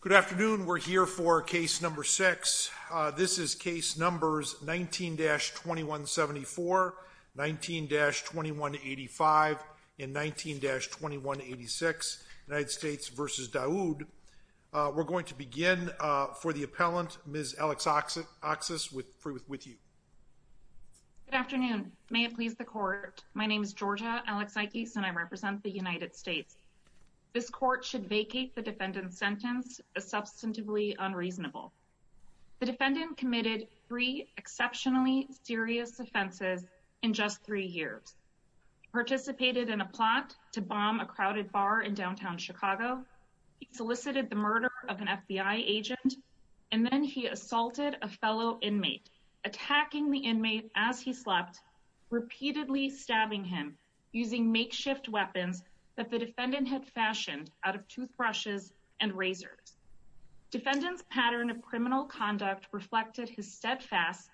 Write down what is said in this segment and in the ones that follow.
Good afternoon. We're here for case number six. This is case numbers 19-2174, 19-2185, and 19-2186, United States v. Daoud. We're going to begin for the appellant, Ms. Alex Oxis, with you. Good afternoon. May it please the court, my name is Georgia Alex-Iquis and I represent the United States. This court should vacate the defendant's sentence as substantively unreasonable. The defendant committed three exceptionally serious offenses in just three years. He participated in a plot to bomb a crowded bar in downtown Chicago. He solicited the murder of an FBI agent. And then he assaulted a fellow inmate, attacking the inmate as he slept, repeatedly stabbing him using makeshift weapons that the defendant had fashioned out of toothbrushes and razors. Defendant's pattern of criminal conduct reflected his steadfast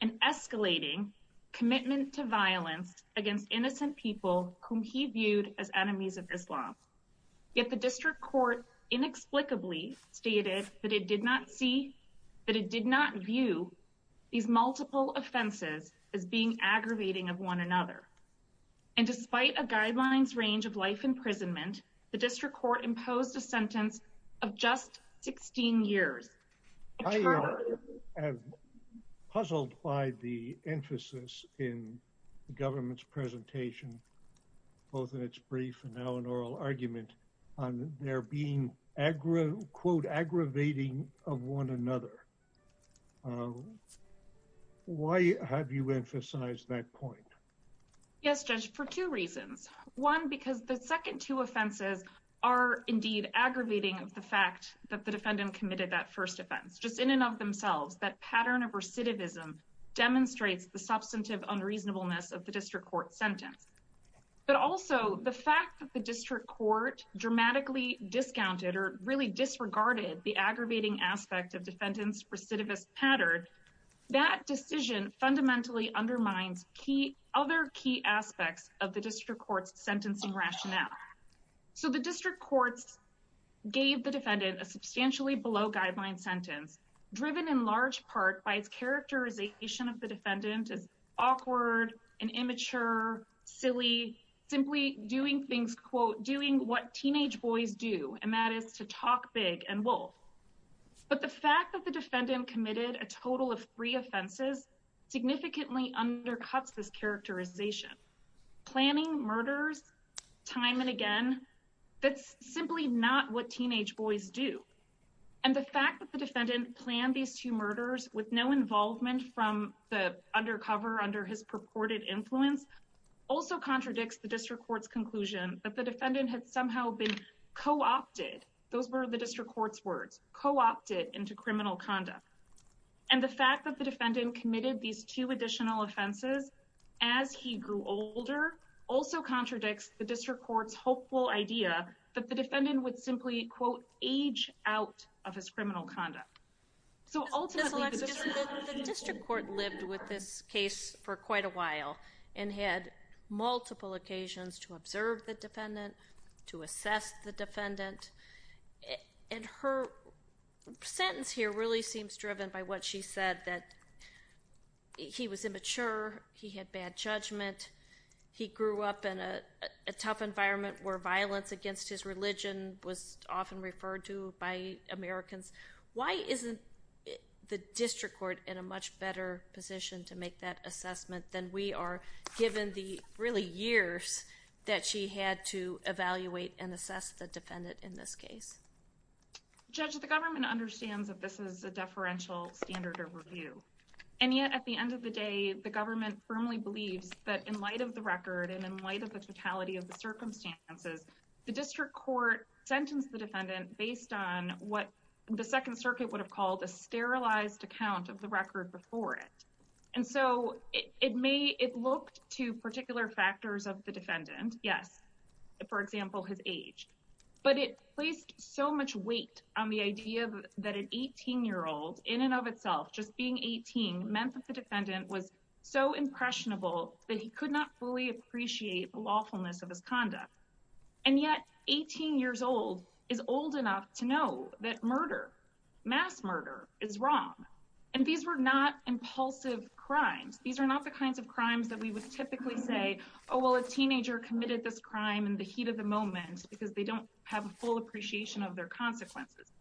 and escalating commitment to violence against innocent people whom he viewed as enemies of Islam. Yet the district court inexplicably stated that it did not see, that it did not view these multiple offenses as being aggravating of one another. And despite a guidelines range of life imprisonment, the district court imposed a sentence of just 16 years. I am puzzled by the emphasis in the government's presentation, both in its brief and now in oral argument, on there being quote aggravating of one another. Why have you emphasized that point? Yes, Judge, for two reasons. One, because the second two offenses are indeed aggravating of the fact that the defendant committed that first offense. Just in and of themselves, that pattern of recidivism demonstrates the substantive unreasonableness of the district court sentence. But also, the fact that the district court dramatically discounted or really disregarded the aggravating aspect of defendant's recidivist pattern, that decision fundamentally undermines other key aspects of the district court's sentencing rationale. So the district courts gave the defendant a substantially below guideline sentence, driven in large part by its characterization of the defendant as awkward and immature, silly, simply doing things, quote, doing what teenage boys do, and that is to talk big and wolf. But the fact that the defendant committed a total of three offenses significantly undercuts this characterization. Planning murders time and again, that's simply not what teenage boys do. And the fact that the defendant planned these two murders with no involvement from the undercover under his purported influence, also contradicts the district court's conclusion that the defendant had somehow been co-opted, those were the district court's words, co-opted into criminal conduct. And the fact that the defendant committed these two additional offenses as he grew older, also contradicts the district court's hopeful idea that the defendant would simply, quote, age out of his criminal conduct. So ultimately, the district court lived with this case for quite a while, and had multiple occasions to observe the defendant, to assess the defendant. And her sentence here really seems driven by what she said, that he was immature, he had bad judgment, he grew up in a tough environment where violence against his religion was often referred to by Americans. Why isn't the district court in a much better position to make that assessment than we are, given the really years that she had to evaluate and assess the defendant in this case? Judge, the government understands that this is a deferential standard of review. And yet at the end of the day, the government firmly believes that in light of the record and in light of the totality of the circumstances, the district court sentenced the defendant based on what the Second Circuit would have called a sterilized account of the record before it. And so it may, it looked to particular factors of the defendant, yes, for example, his age. But it placed so much weight on the idea that an 18-year-old, in and of itself, just being 18, meant that the defendant was so impressionable that he could not fully appreciate the lawfulness of his conduct. And yet, 18 years old is old enough to know that murder, mass murder, is wrong. And these were not impulsive crimes. These are not the kinds of crimes that we would typically say, oh, well, a teenager committed this crime in the heat of the moment because they don't have a full appreciation of their consequences.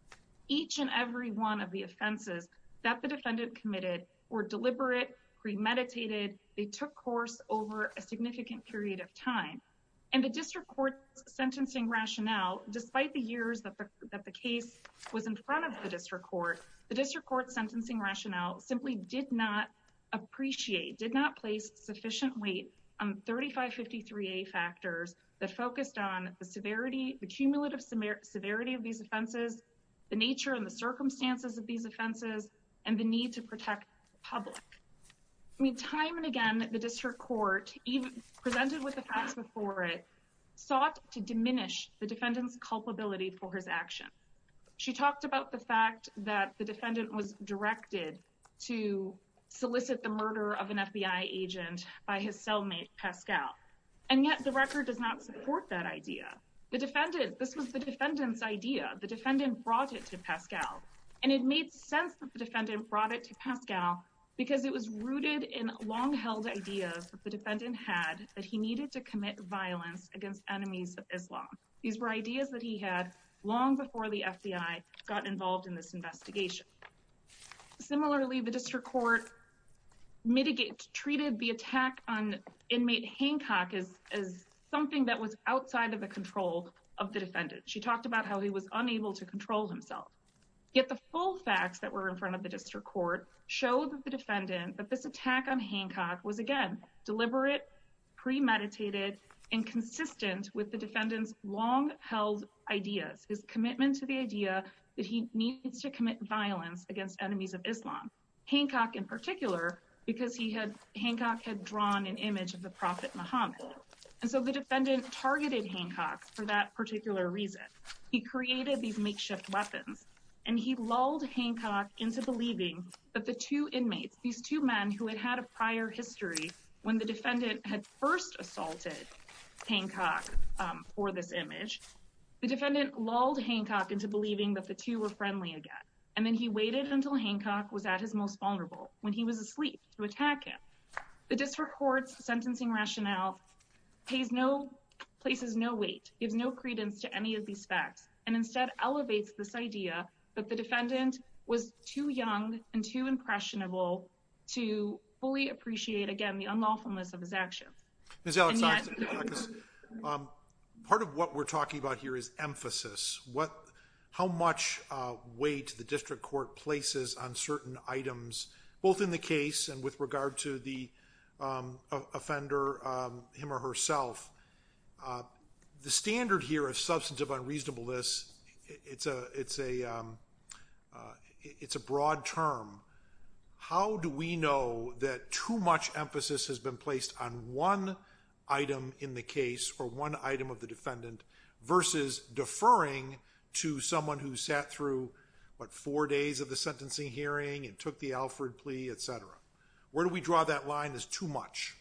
Each and every one of the offenses that the defendant committed were deliberate, premeditated. They took course over a significant period of time. And the district court's sentencing rationale, despite the years that the case was in front of the district court, the district court's sentencing rationale simply did not appreciate, did not place sufficient weight on 3553A factors that focused on the severity, the cumulative severity of these offenses, the nature and the circumstances of these offenses, and the need to protect the public. I mean, time and again, the district court, even presented with the facts before it, sought to diminish the defendant's culpability for his action. She talked about the fact that the defendant was directed to solicit the murder of an FBI agent by his cellmate, Pascal. And yet the record does not support that idea. The defendant, this was the defendant's idea. The defendant brought it to Pascal. And it made sense that the defendant brought it to Pascal because it was rooted in long-held ideas that the defendant had that he needed to commit violence against enemies of Islam. These were ideas that he had long before the FBI got involved in this investigation. Similarly, the district court mitigated, treated the attack on inmate Hancock as something that was outside of the control of the defendant. She talked about how he was unable to control himself. Yet the full facts that were in front of the district court showed that the defendant, that this attack on Hancock was, again, deliberate, premeditated, and consistent with the defendant's long-held ideas, his commitment to the idea that he needs to commit violence against enemies of Islam, Hancock in particular, because Hancock had drawn an image of the prophet Muhammad. And so the defendant targeted Hancock for that particular reason. He created these makeshift weapons. And he lulled Hancock into believing that the two inmates, these two men who had had a prior history, when the defendant had first assaulted Hancock for this image, the defendant lulled Hancock into believing that the two were friendly again. And then he waited until Hancock was at his most vulnerable, when he was asleep, to attack him. The district court's sentencing rationale places no weight, gives no credence to any of these facts, and instead elevates this idea that the defendant was too young and too impressionable to fully appreciate, again, the unlawfulness of his actions. Ms. Alexakis, part of what we're talking about here is emphasis. How much weight the district court places on certain items, both in the case and with regard to the offender, him or herself? The standard here of substantive unreasonableness, it's a broad term. How do we know that too much emphasis has been placed on one item in the case, or one item of the defendant, versus deferring to someone who sat through, what, four days of the sentencing hearing and took the Alford plea, et cetera? Where do we draw that line as too much?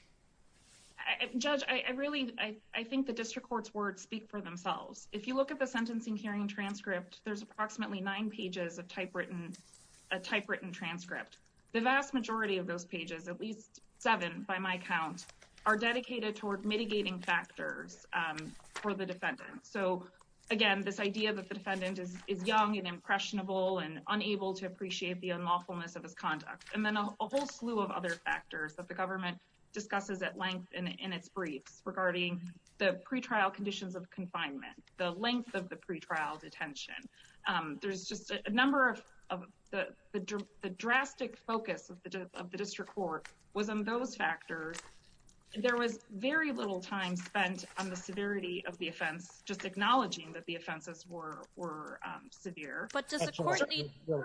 Judge, I really, I think the district court's words speak for themselves. If you look at the sentencing hearing transcript, there's approximately nine pages of typewritten transcript. The vast majority of those pages, at least seven by my count, are dedicated toward mitigating factors for the defendant. So, again, this idea that the defendant is young and impressionable and unable to appreciate the unlawfulness of his conduct. And then a whole slew of other factors that the government discusses at length in its briefs, regarding the pretrial conditions of confinement, the length of the pretrial detention. There's just a number of, the drastic focus of the district court was on those factors. There was very little time spent on the severity of the offense, just acknowledging that the offenses were severe. But does the court need... Go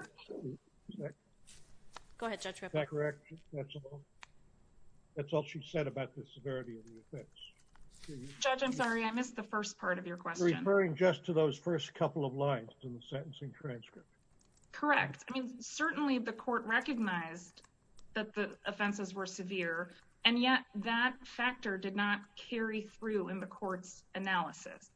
ahead, Judge. Is that correct? That's all she said about the severity of the offense. Judge, I'm sorry. I missed the first part of your question. Referring just to those first couple of lines in the sentencing transcript. Correct. I mean, certainly the court recognized that the offenses were severe. And yet that factor did not carry through in the court's analysis.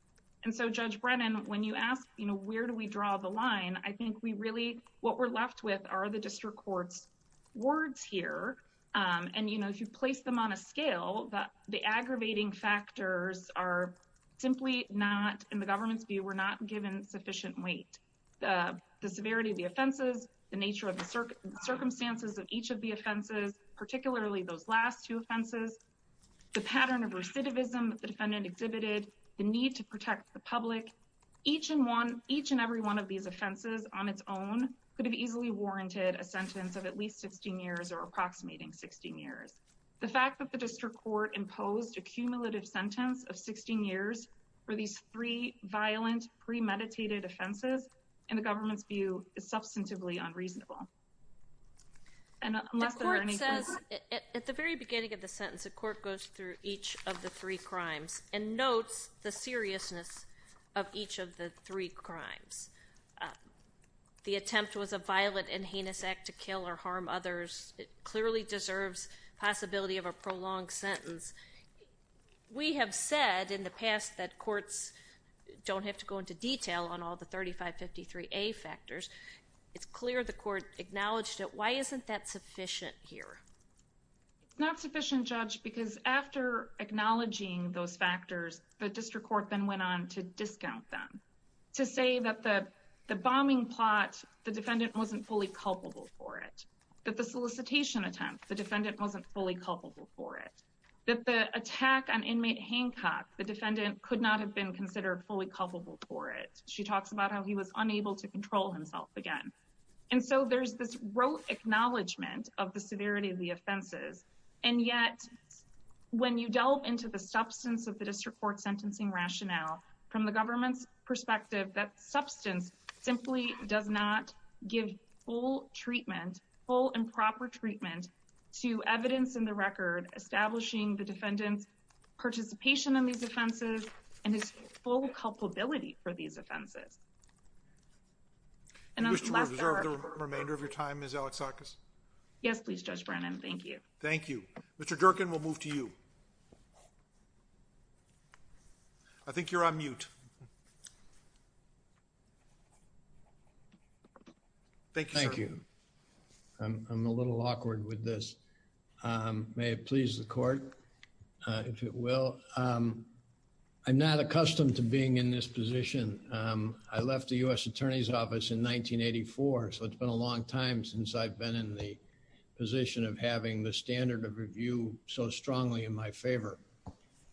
And so, Judge Brennan, when you ask, you know, where do we draw the line, I think we really, what we're left with are the district court's words here. And, you know, if you place them on a scale, the aggravating factors are simply not, in the government's view, were not given sufficient weight. The severity of the offenses, the nature of the circumstances of each of the offenses, particularly those last two offenses, the pattern of recidivism that the defendant exhibited, the need to protect the public, each and every one of these offenses on its own could have easily warranted a sentence of at least 16 years or approximating 16 years. The fact that the district court imposed a cumulative sentence of 16 years for these three violent premeditated offenses, in the government's view, is substantively unreasonable. The court says at the very beginning of the sentence, the court goes through each of the three crimes and notes the seriousness of each of the three crimes. The attempt was a violent and heinous act to kill or harm others. It clearly deserves possibility of a prolonged sentence. We have said in the past that courts don't have to go into detail on all the 3553A factors. It's clear the court acknowledged it. Why isn't that sufficient here? It's not sufficient, Judge, because after acknowledging those factors, the district court then went on to discount them. To say that the bombing plot, the defendant wasn't fully culpable for it. That the solicitation attempt, the defendant wasn't fully culpable for it. That the attack on inmate Hancock, the defendant could not have been considered fully culpable for it. She talks about how he was unable to control himself again. And so there's this rote acknowledgement of the severity of the offenses. And yet, when you delve into the substance of the district court sentencing rationale, from the government's perspective, that substance simply does not give full treatment, full and proper treatment to evidence in the record establishing the defendant's participation in these offenses and his full culpability for these offenses. And unless there are... Do you wish to reserve the remainder of your time, Ms. Alexakis? Yes, please, Judge Brennan. Thank you. Thank you. Mr. Jerkin, we'll move to you. I think you're on mute. Thank you, sir. Thank you. I'm a little awkward with this. May it please the court, if it will. I'm not accustomed to being in this position. I left the U.S. Attorney's Office in 1984, so it's been a long time since I've been in the position of having the standard of review so strongly in my favor.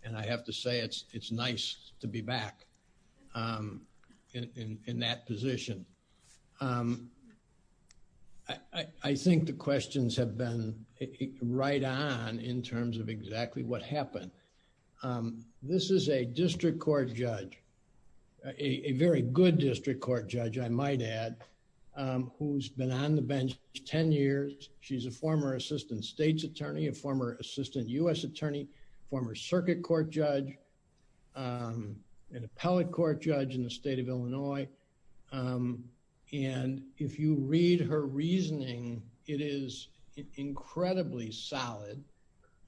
And I have to say it's nice to be back in that position. I think the questions have been right on in terms of exactly what happened. This is a district court judge, a very good district court judge, I might add, who's been on the bench 10 years. She's a former Assistant States Attorney, a former Assistant U.S. Attorney, a former circuit court judge, an appellate court judge in the state of Illinois. And if you read her reasoning, it is incredibly solid.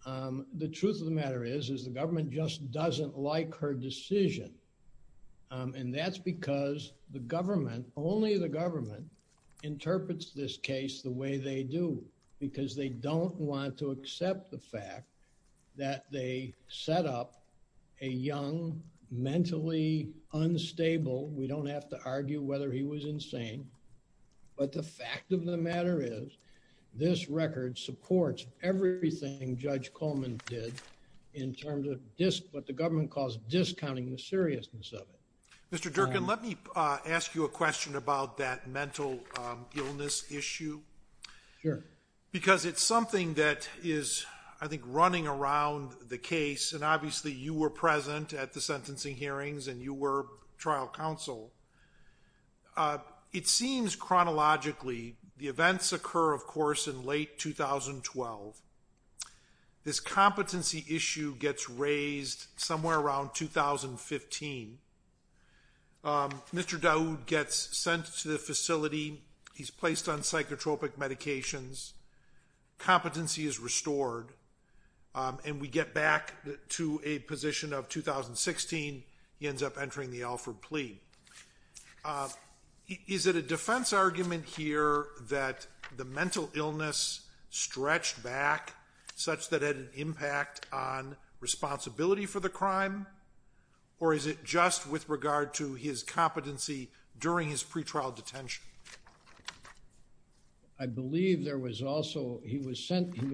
The truth of the matter is, is the government just doesn't like her decision. And that's because the government, only the government, interprets this case the way they do, because they don't want to accept the fact that they set up a young, mentally unstable, we don't have to argue whether he was insane, but the fact of the matter is, this record supports everything Judge Coleman did in terms of what the government calls discounting the seriousness of it. Mr. Durkin, let me ask you a question about that mental illness issue. Sure. Because it's something that is, I think, running around the case, and obviously you were present at the sentencing hearings and you were trial counsel. It seems chronologically, the events occur, of course, in late 2012. This competency issue gets raised somewhere around 2015. Mr. Dawood gets sent to the facility. He's placed on psychotropic medications. Competency is restored. And we get back to a position of 2016. He ends up entering the Alford plea. Is it a defense argument here that the mental illness stretched back, such that it had an impact on responsibility for the crime? Or is it just with regard to his competency during his pretrial detention? I believe there was also, he was sent to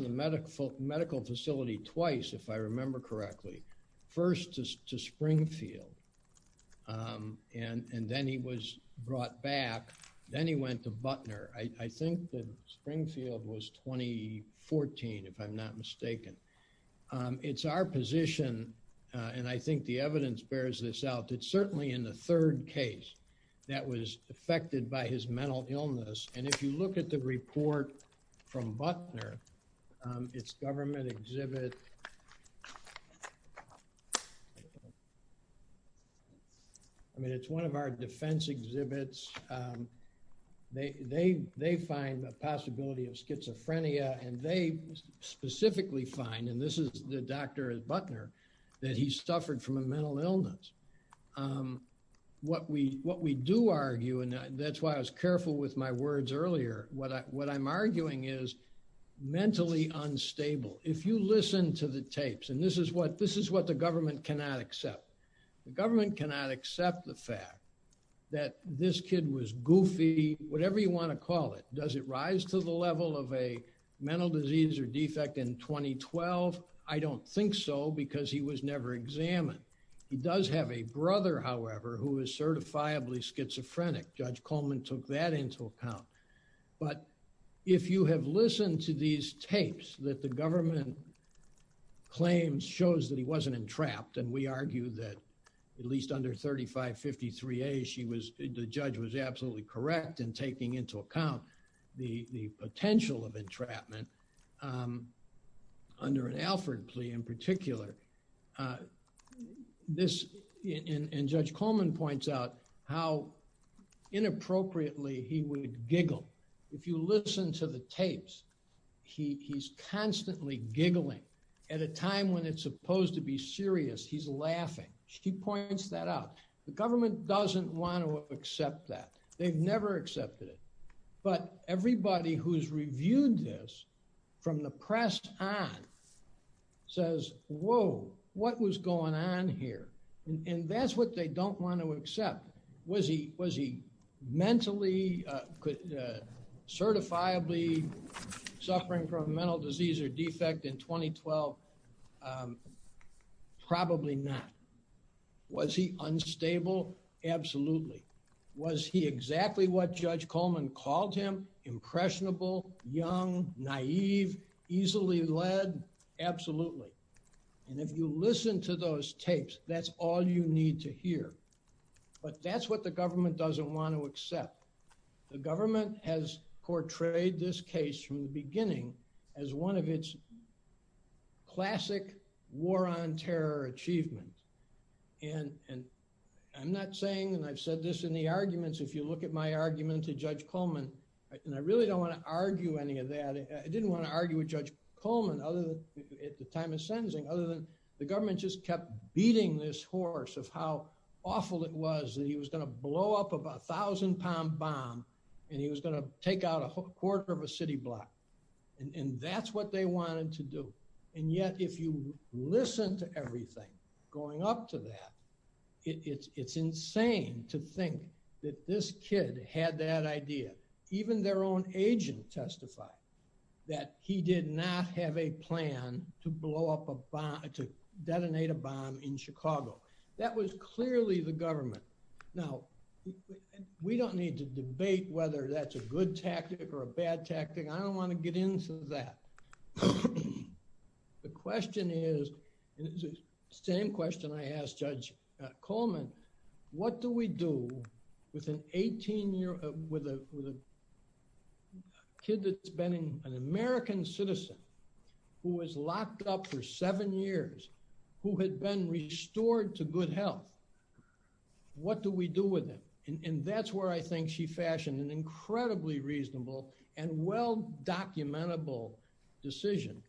the medical facility twice, if I remember correctly. First to Springfield, and then he was brought back. Then he went to Butner. I think that Springfield was 2014, if I'm not mistaken. It's our position, and I think the evidence bears this out, that certainly in the third case, that was affected by his mental illness. And if you look at the report from Butner, it's government exhibit... I mean, it's one of our defense exhibits. They find a possibility of schizophrenia, and they specifically find, and this is the doctor at Butner, that he suffered from a mental illness. What we do argue, and that's why I was careful with my words earlier, what I'm arguing is mentally unstable. If you listen to the tapes, and this is what the government cannot accept. The government cannot accept the fact that this kid was goofy, whatever you want to call it. Does it rise to the level of a mental disease or defect in 2012? I don't think so, because he was never examined. He does have a brother, however, who is certifiably schizophrenic. Judge Coleman took that into account. But if you have listened to these tapes that the government claims shows that he wasn't entrapped, and we argue that at least under 3553A, she was... the judge was absolutely correct in taking into account the potential of entrapment. Under an Alford plea in particular, this... and Judge Coleman points out how inappropriately he would giggle. If you listen to the tapes, he's constantly giggling. At a time when it's supposed to be serious, he's laughing. She points that out. The government doesn't want to accept that. They've never accepted it. But everybody who's reviewed this from the press on says, whoa, what was going on here? And that's what they don't want to accept. Was he mentally, certifiably suffering from a mental disease or defect in 2012? Probably not. Was he unstable? Absolutely. Was he exactly what Judge Coleman called him? Impressionable, young, naive, easily led? Absolutely. And if you listen to those tapes, that's all you need to hear. But that's what the government doesn't want to accept. The government has portrayed this case from the beginning as one of its classic war on terror achievements. And I'm not saying, and I've said this in the arguments, if you look at my argument to Judge Coleman, and I really don't want to argue any of that. I didn't want to argue with Judge Coleman at the time of sentencing, other than the government just kept beating this horse of how awful it was that he was going to blow up a 1,000-pound bomb and he was going to take out a quarter of a city block. And that's what they wanted to do. And yet if you listen to everything going up to that, it's insane to think that this kid had that idea. Even their own agent testified that he did not have a plan to detonate a bomb in Chicago. That was clearly the government. Now, we don't need to debate whether that's a good tactic or a bad tactic. I don't want to get into that. The question is, and it's the same question I asked Judge Coleman, what do we do with a kid that's been an American citizen who was locked up for seven years, who had been restored to good health? What do we do with him? And that's where I think she fashioned an incredibly reasonable and well-documentable decision.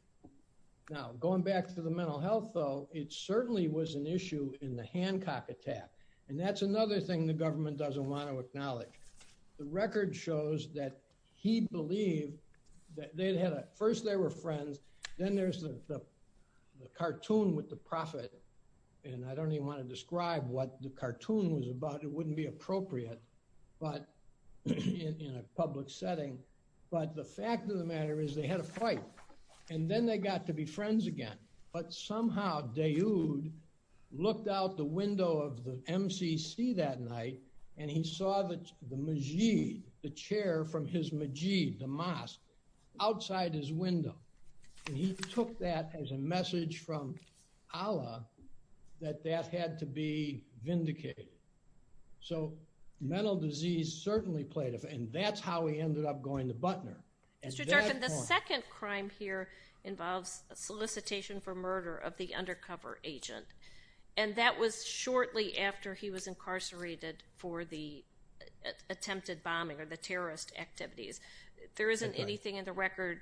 Now, going back to the mental health, though, it certainly was an issue in the Hancock attack. And that's another thing the government doesn't want to acknowledge. The record shows that he believed that they'd had a – first they were friends, then there's the cartoon with the prophet, and I don't even want to describe what the cartoon was about. It wouldn't be appropriate in a public setting. But the fact of the matter is they had a fight, and then they got to be friends again. But somehow Dayoud looked out the window of the MCC that night and he saw the majid, the chair from his majid, the mosque, outside his window. And he took that as a message from Allah that that had to be vindicated. So mental disease certainly played a – and that's how he ended up going to Butner. Mr. Durkin, the second crime here involves solicitation for murder of the undercover agent, and that was shortly after he was incarcerated for the attempted bombing or the terrorist activities. There isn't anything in the record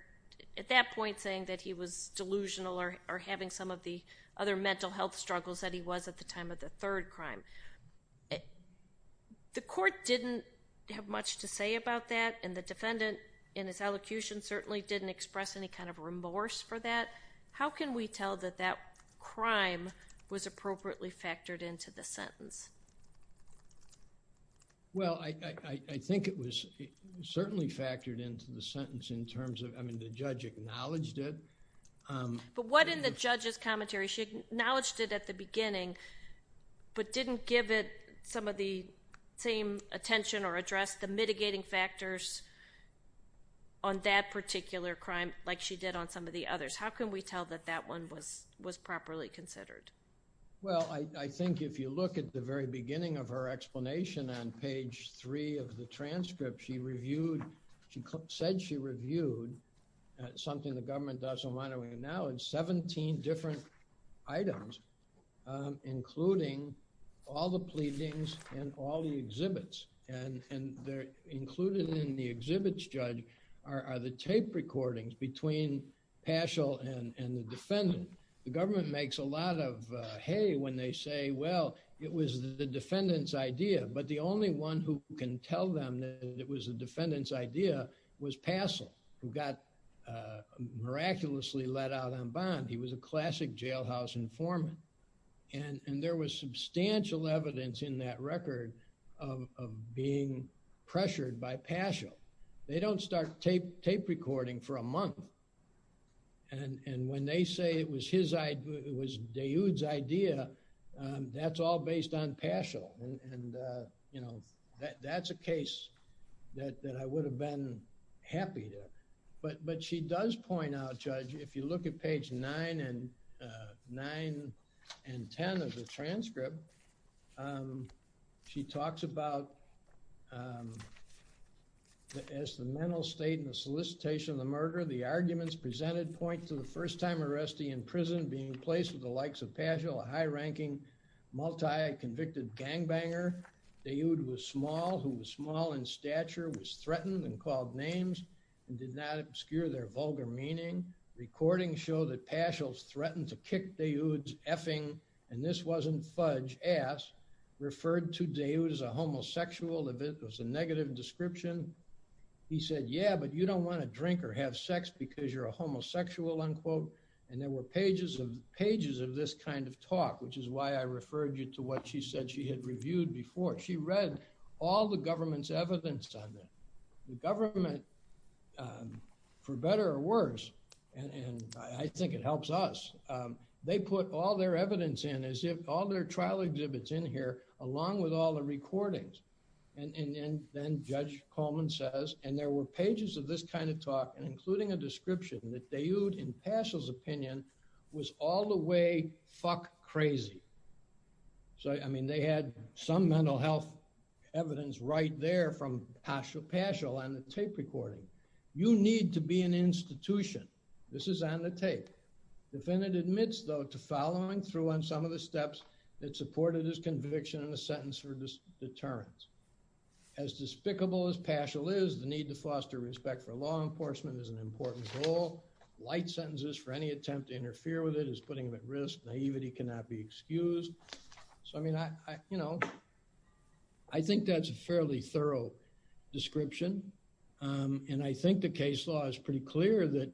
at that point saying that he was delusional or having some of the other mental health struggles that he was at the time of the third crime. The court didn't have much to say about that, and the defendant in his elocution certainly didn't express any kind of remorse for that. How can we tell that that crime was appropriately factored into the sentence? Well, I think it was certainly factored into the sentence in terms of – I mean, the judge acknowledged it. But what in the judge's commentary – she acknowledged it at the beginning but didn't give it some of the same attention or address the mitigating factors on that particular crime like she did on some of the others. How can we tell that that one was properly considered? Well, I think if you look at the very beginning of her explanation on page 3 of the transcript, she reviewed – she said she reviewed something the government does in Wyoming now and 17 different items, including all the pleadings and all the exhibits. And included in the exhibits, Judge, are the tape recordings between Paschal and the defendant. The government makes a lot of hay when they say, well, it was the defendant's idea. But the only one who can tell them that it was the defendant's idea was Paschal, who got miraculously let out on bond. He was a classic jailhouse informant. And there was substantial evidence in that record of being pressured by Paschal. They don't start tape recording for a month. And when they say it was his – it was Dayoud's idea, that's all based on Paschal. And, you know, that's a case that I would have been happy to. But she does point out, Judge, if you look at page 9 and – 9 and 10 of the transcript, she talks about as the mental state and the solicitation of the murder, the arguments presented point to the first-time arrestee in prison being placed with the likes of Paschal, a high-ranking, multi-convicted gangbanger. Dayoud was small, who was small in stature, was threatened and called names, and did not obscure their vulgar meaning. Recordings show that Paschal threatened to kick Dayoud's effing, and this wasn't fudge, ass, referred to Dayoud as a homosexual if it was a negative description. He said, yeah, but you don't want to drink or have sex because you're a homosexual, unquote. And there were pages of – pages of this kind of talk, which is why I referred you to what she said she had reviewed before. She read all the government's evidence on that. The government, for better or worse, and I think it helps us, they put all their evidence in as if – all their trial exhibits in here along with all the recordings. And then Judge Coleman says, and there were pages of this kind of talk, including a description that Dayoud, in Paschal's opinion, was all the way fuck crazy. So, I mean, they had some mental health evidence right there from Paschal on the tape recording. You need to be an institution. This is on the tape. The defendant admits, though, to following through on some of the steps that supported his conviction in the sentence for deterrence. As despicable as Paschal is, the need to foster respect for law enforcement is an important goal. Light sentences for any attempt to interfere with it is putting him at risk. Naivety cannot be excused. So, I mean, you know, I think that's a fairly thorough description. And I think the case law is pretty clear that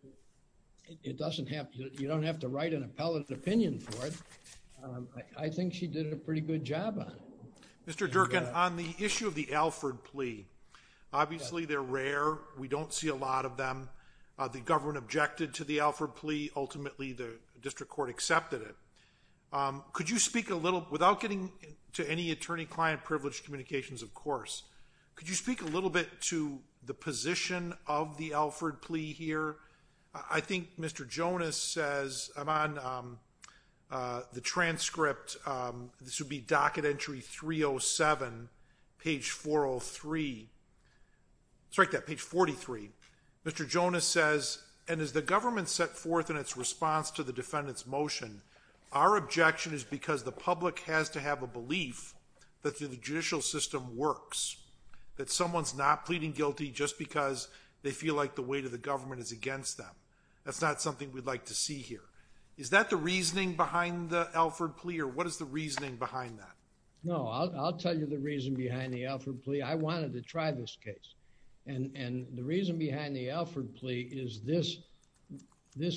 it doesn't have – you don't have to write an appellate opinion for it. I think she did a pretty good job on it. Mr. Durkin, on the issue of the Alford plea, obviously they're rare. We don't see a lot of them. The government objected to the Alford plea. Ultimately, the district court accepted it. Could you speak a little – without getting to any attorney-client privilege communications, of course. Could you speak a little bit to the position of the Alford plea here? I think Mr. Jonas says – I'm on the transcript. This would be docket entry 307, page 403. Sorry, page 43. Mr. Jonas says, and as the government set forth in its response to the defendant's motion, our objection is because the public has to have a belief that the judicial system works, that someone's not pleading guilty just because they feel like the weight of the government is against them. That's not something we'd like to see here. Is that the reasoning behind the Alford plea, or what is the reasoning behind that? No, I'll tell you the reason behind the Alford plea. I wanted to try this case. And the reason behind the Alford plea is this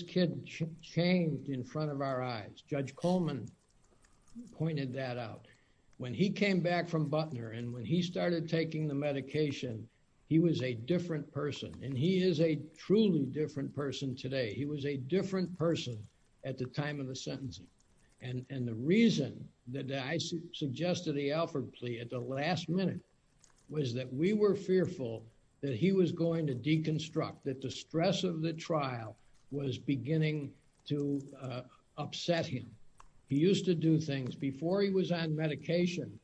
kid changed in front of our eyes. Judge Coleman pointed that out. When he came back from Butner and when he started taking the medication, he was a different person. And he is a truly different person today. He was a different person at the time of the sentencing. And the reason that I suggested the Alford plea at the last minute was that we were fearful that he was going to deconstruct, that the stress of the trial was beginning to upset him. He used to do things. Before he was on medication,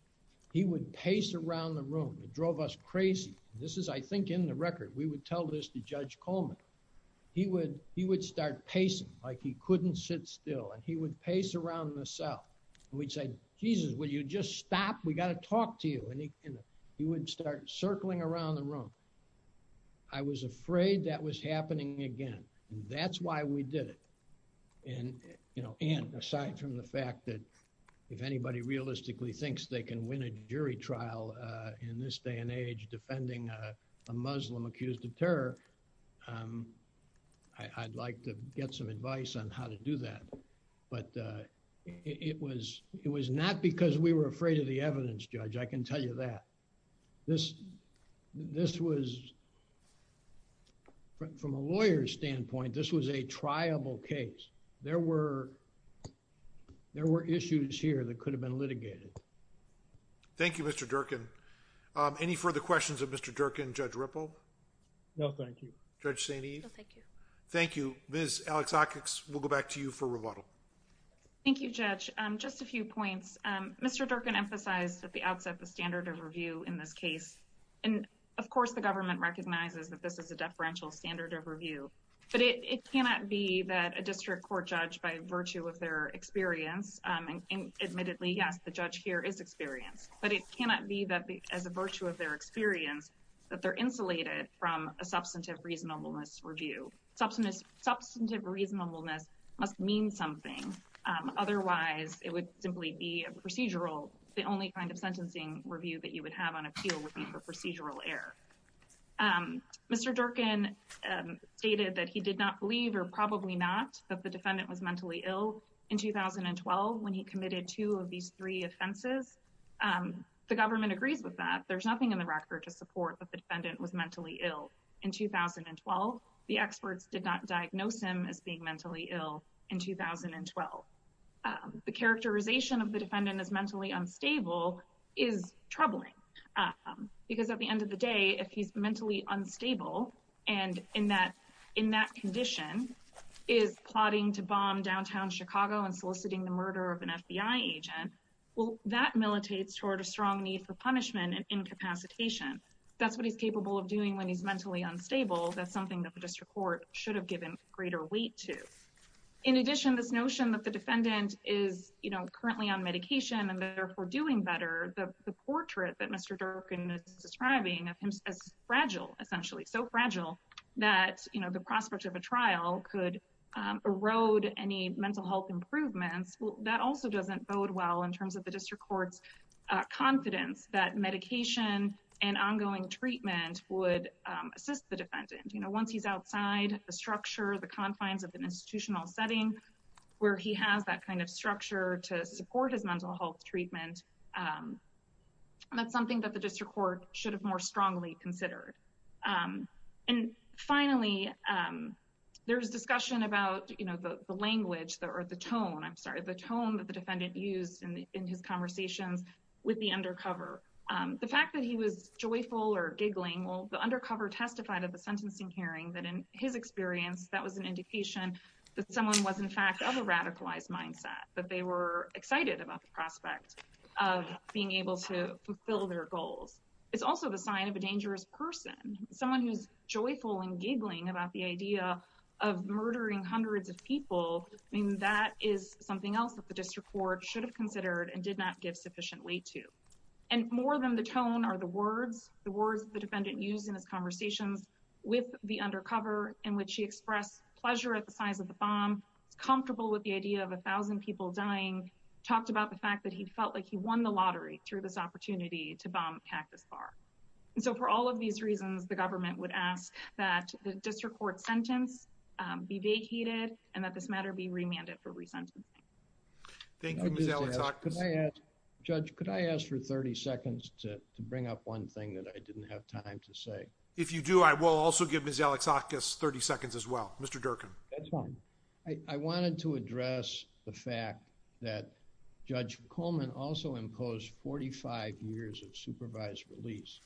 he would pace around the room. It drove us crazy. This is, I think, in the record. We would tell this to Judge Coleman. He would start pacing like he couldn't sit still. And he would pace around the cell. And we'd say, Jesus, will you just stop? We've got to talk to you. And he would start circling around the room. I was afraid that was happening again. That's why we did it. And aside from the fact that if anybody realistically thinks they can win a jury trial in this day and age defending a Muslim accused of terror, I'd like to get some advice on how to do that. But it was not because we were afraid of the evidence, Judge. I can tell you that. This was, from a lawyer's standpoint, this was a triable case. There were issues here that could have been litigated. Thank you, Mr. Durkin. Any further questions of Mr. Durkin, Judge Ripple? No, thank you. Judge St. Eve? No, thank you. Thank you. Ms. Alexakos, we'll go back to you for rebuttal. Thank you, Judge. Just a few points. Mr. Durkin emphasized at the outset the standard of review in this case. And, of course, the government recognizes that this is a deferential standard of review. But it cannot be that a district court judge, by virtue of their experience, and admittedly, yes, the judge here is experienced, but it cannot be that as a virtue of their experience that they're insulated from a substantive reasonableness review. Substantive reasonableness must mean something. Otherwise, it would simply be procedural. The only kind of sentencing review that you would have on appeal would be for procedural error. Mr. Durkin stated that he did not believe, or probably not, that the defendant was mentally ill in 2012 when he committed two of these three offenses. The government agrees with that. There's nothing in the record to support that the defendant was mentally ill in 2012. The experts did not diagnose him as being mentally ill in 2012. The characterization of the defendant as mentally unstable is troubling. Because at the end of the day, if he's mentally unstable and in that condition is plotting to bomb downtown Chicago and soliciting the murder of an FBI agent, well, that militates toward a strong need for punishment and incapacitation. That's what he's capable of doing when he's mentally unstable. That's something that the district court should have given greater weight to. In addition, this notion that the defendant is currently on medication and therefore doing better, the portrait that Mr. Durkin is describing of him as fragile, essentially, so fragile that the prospect of a trial could erode any mental health improvements, that also doesn't bode well in terms of the district court's confidence that medication and ongoing treatment would assist the defendant. Once he's outside the structure, the confines of an institutional setting where he has that kind of structure to support his mental health treatment, that's something that the district court should have more strongly considered. And finally, there's discussion about the language or the tone, I'm sorry, the tone that the defendant used in his conversations with the undercover. The fact that he was joyful or giggling, well, the undercover testified at the sentencing hearing that in his experience, that was an indication that someone was, in fact, of a radicalized mindset, that they were excited about the prospect of being able to fulfill their goals. It's also the sign of a dangerous person, someone who's joyful and giggling about the idea of murdering hundreds of people. I mean, that is something else that the district court should have considered and did not give sufficient weight to. And more than the tone are the words, the words the defendant used in his conversations with the undercover, in which he expressed pleasure at the size of the bomb, comfortable with the idea of a thousand people dying, talked about the fact that he felt like he won the lottery through this opportunity to bomb Cactus Bar. And so for all of these reasons, the government would ask that the district court sentence be vacated and that this matter be remanded for resentencing. Thank you, Ms. Alexakis. Judge, could I ask for 30 seconds to bring up one thing that I didn't have time to say? If you do, I will also give Ms. Alexakis 30 seconds as well. Mr. Durkin. I wanted to address the fact that Judge Coleman also imposed 45 years of supervised release.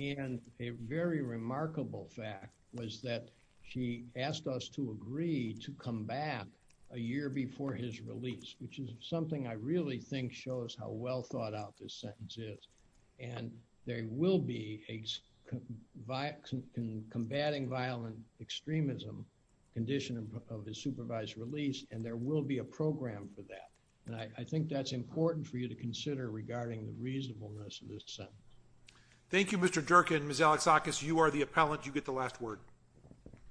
And a very remarkable fact was that she asked us to agree to combat a year before his release, which is something I really think shows how well thought out this sentence is. And there will be a combatting violent extremism condition of his supervised release, and there will be a program for that. And I think that's important for you to consider regarding the reasonableness of this sentence. Thank you, Mr. Durkin. Ms. Alexakis, you are the appellant. You get the last word.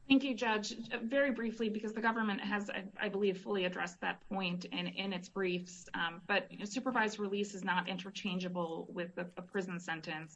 Thank you, Judge. Very briefly, because the government has, I believe, fully addressed that point in its briefs. But supervised release is not interchangeable with a prison sentence.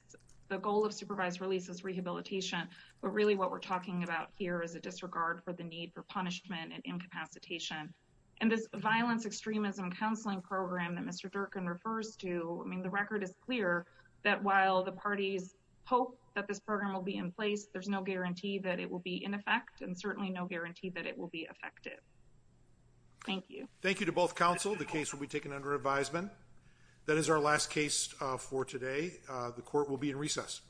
The goal of supervised release is rehabilitation. But really what we're talking about here is a disregard for the need for punishment and incapacitation. And this violence extremism counseling program that Mr. Durkin refers to, I mean, the record is clear that while the parties hope that this program will be in place, there's no guarantee that it will be in effect and certainly no guarantee that it will be effective. Thank you. Thank you to both counsel. The case will be taken under advisement. That is our last case for today. The court will be in recess.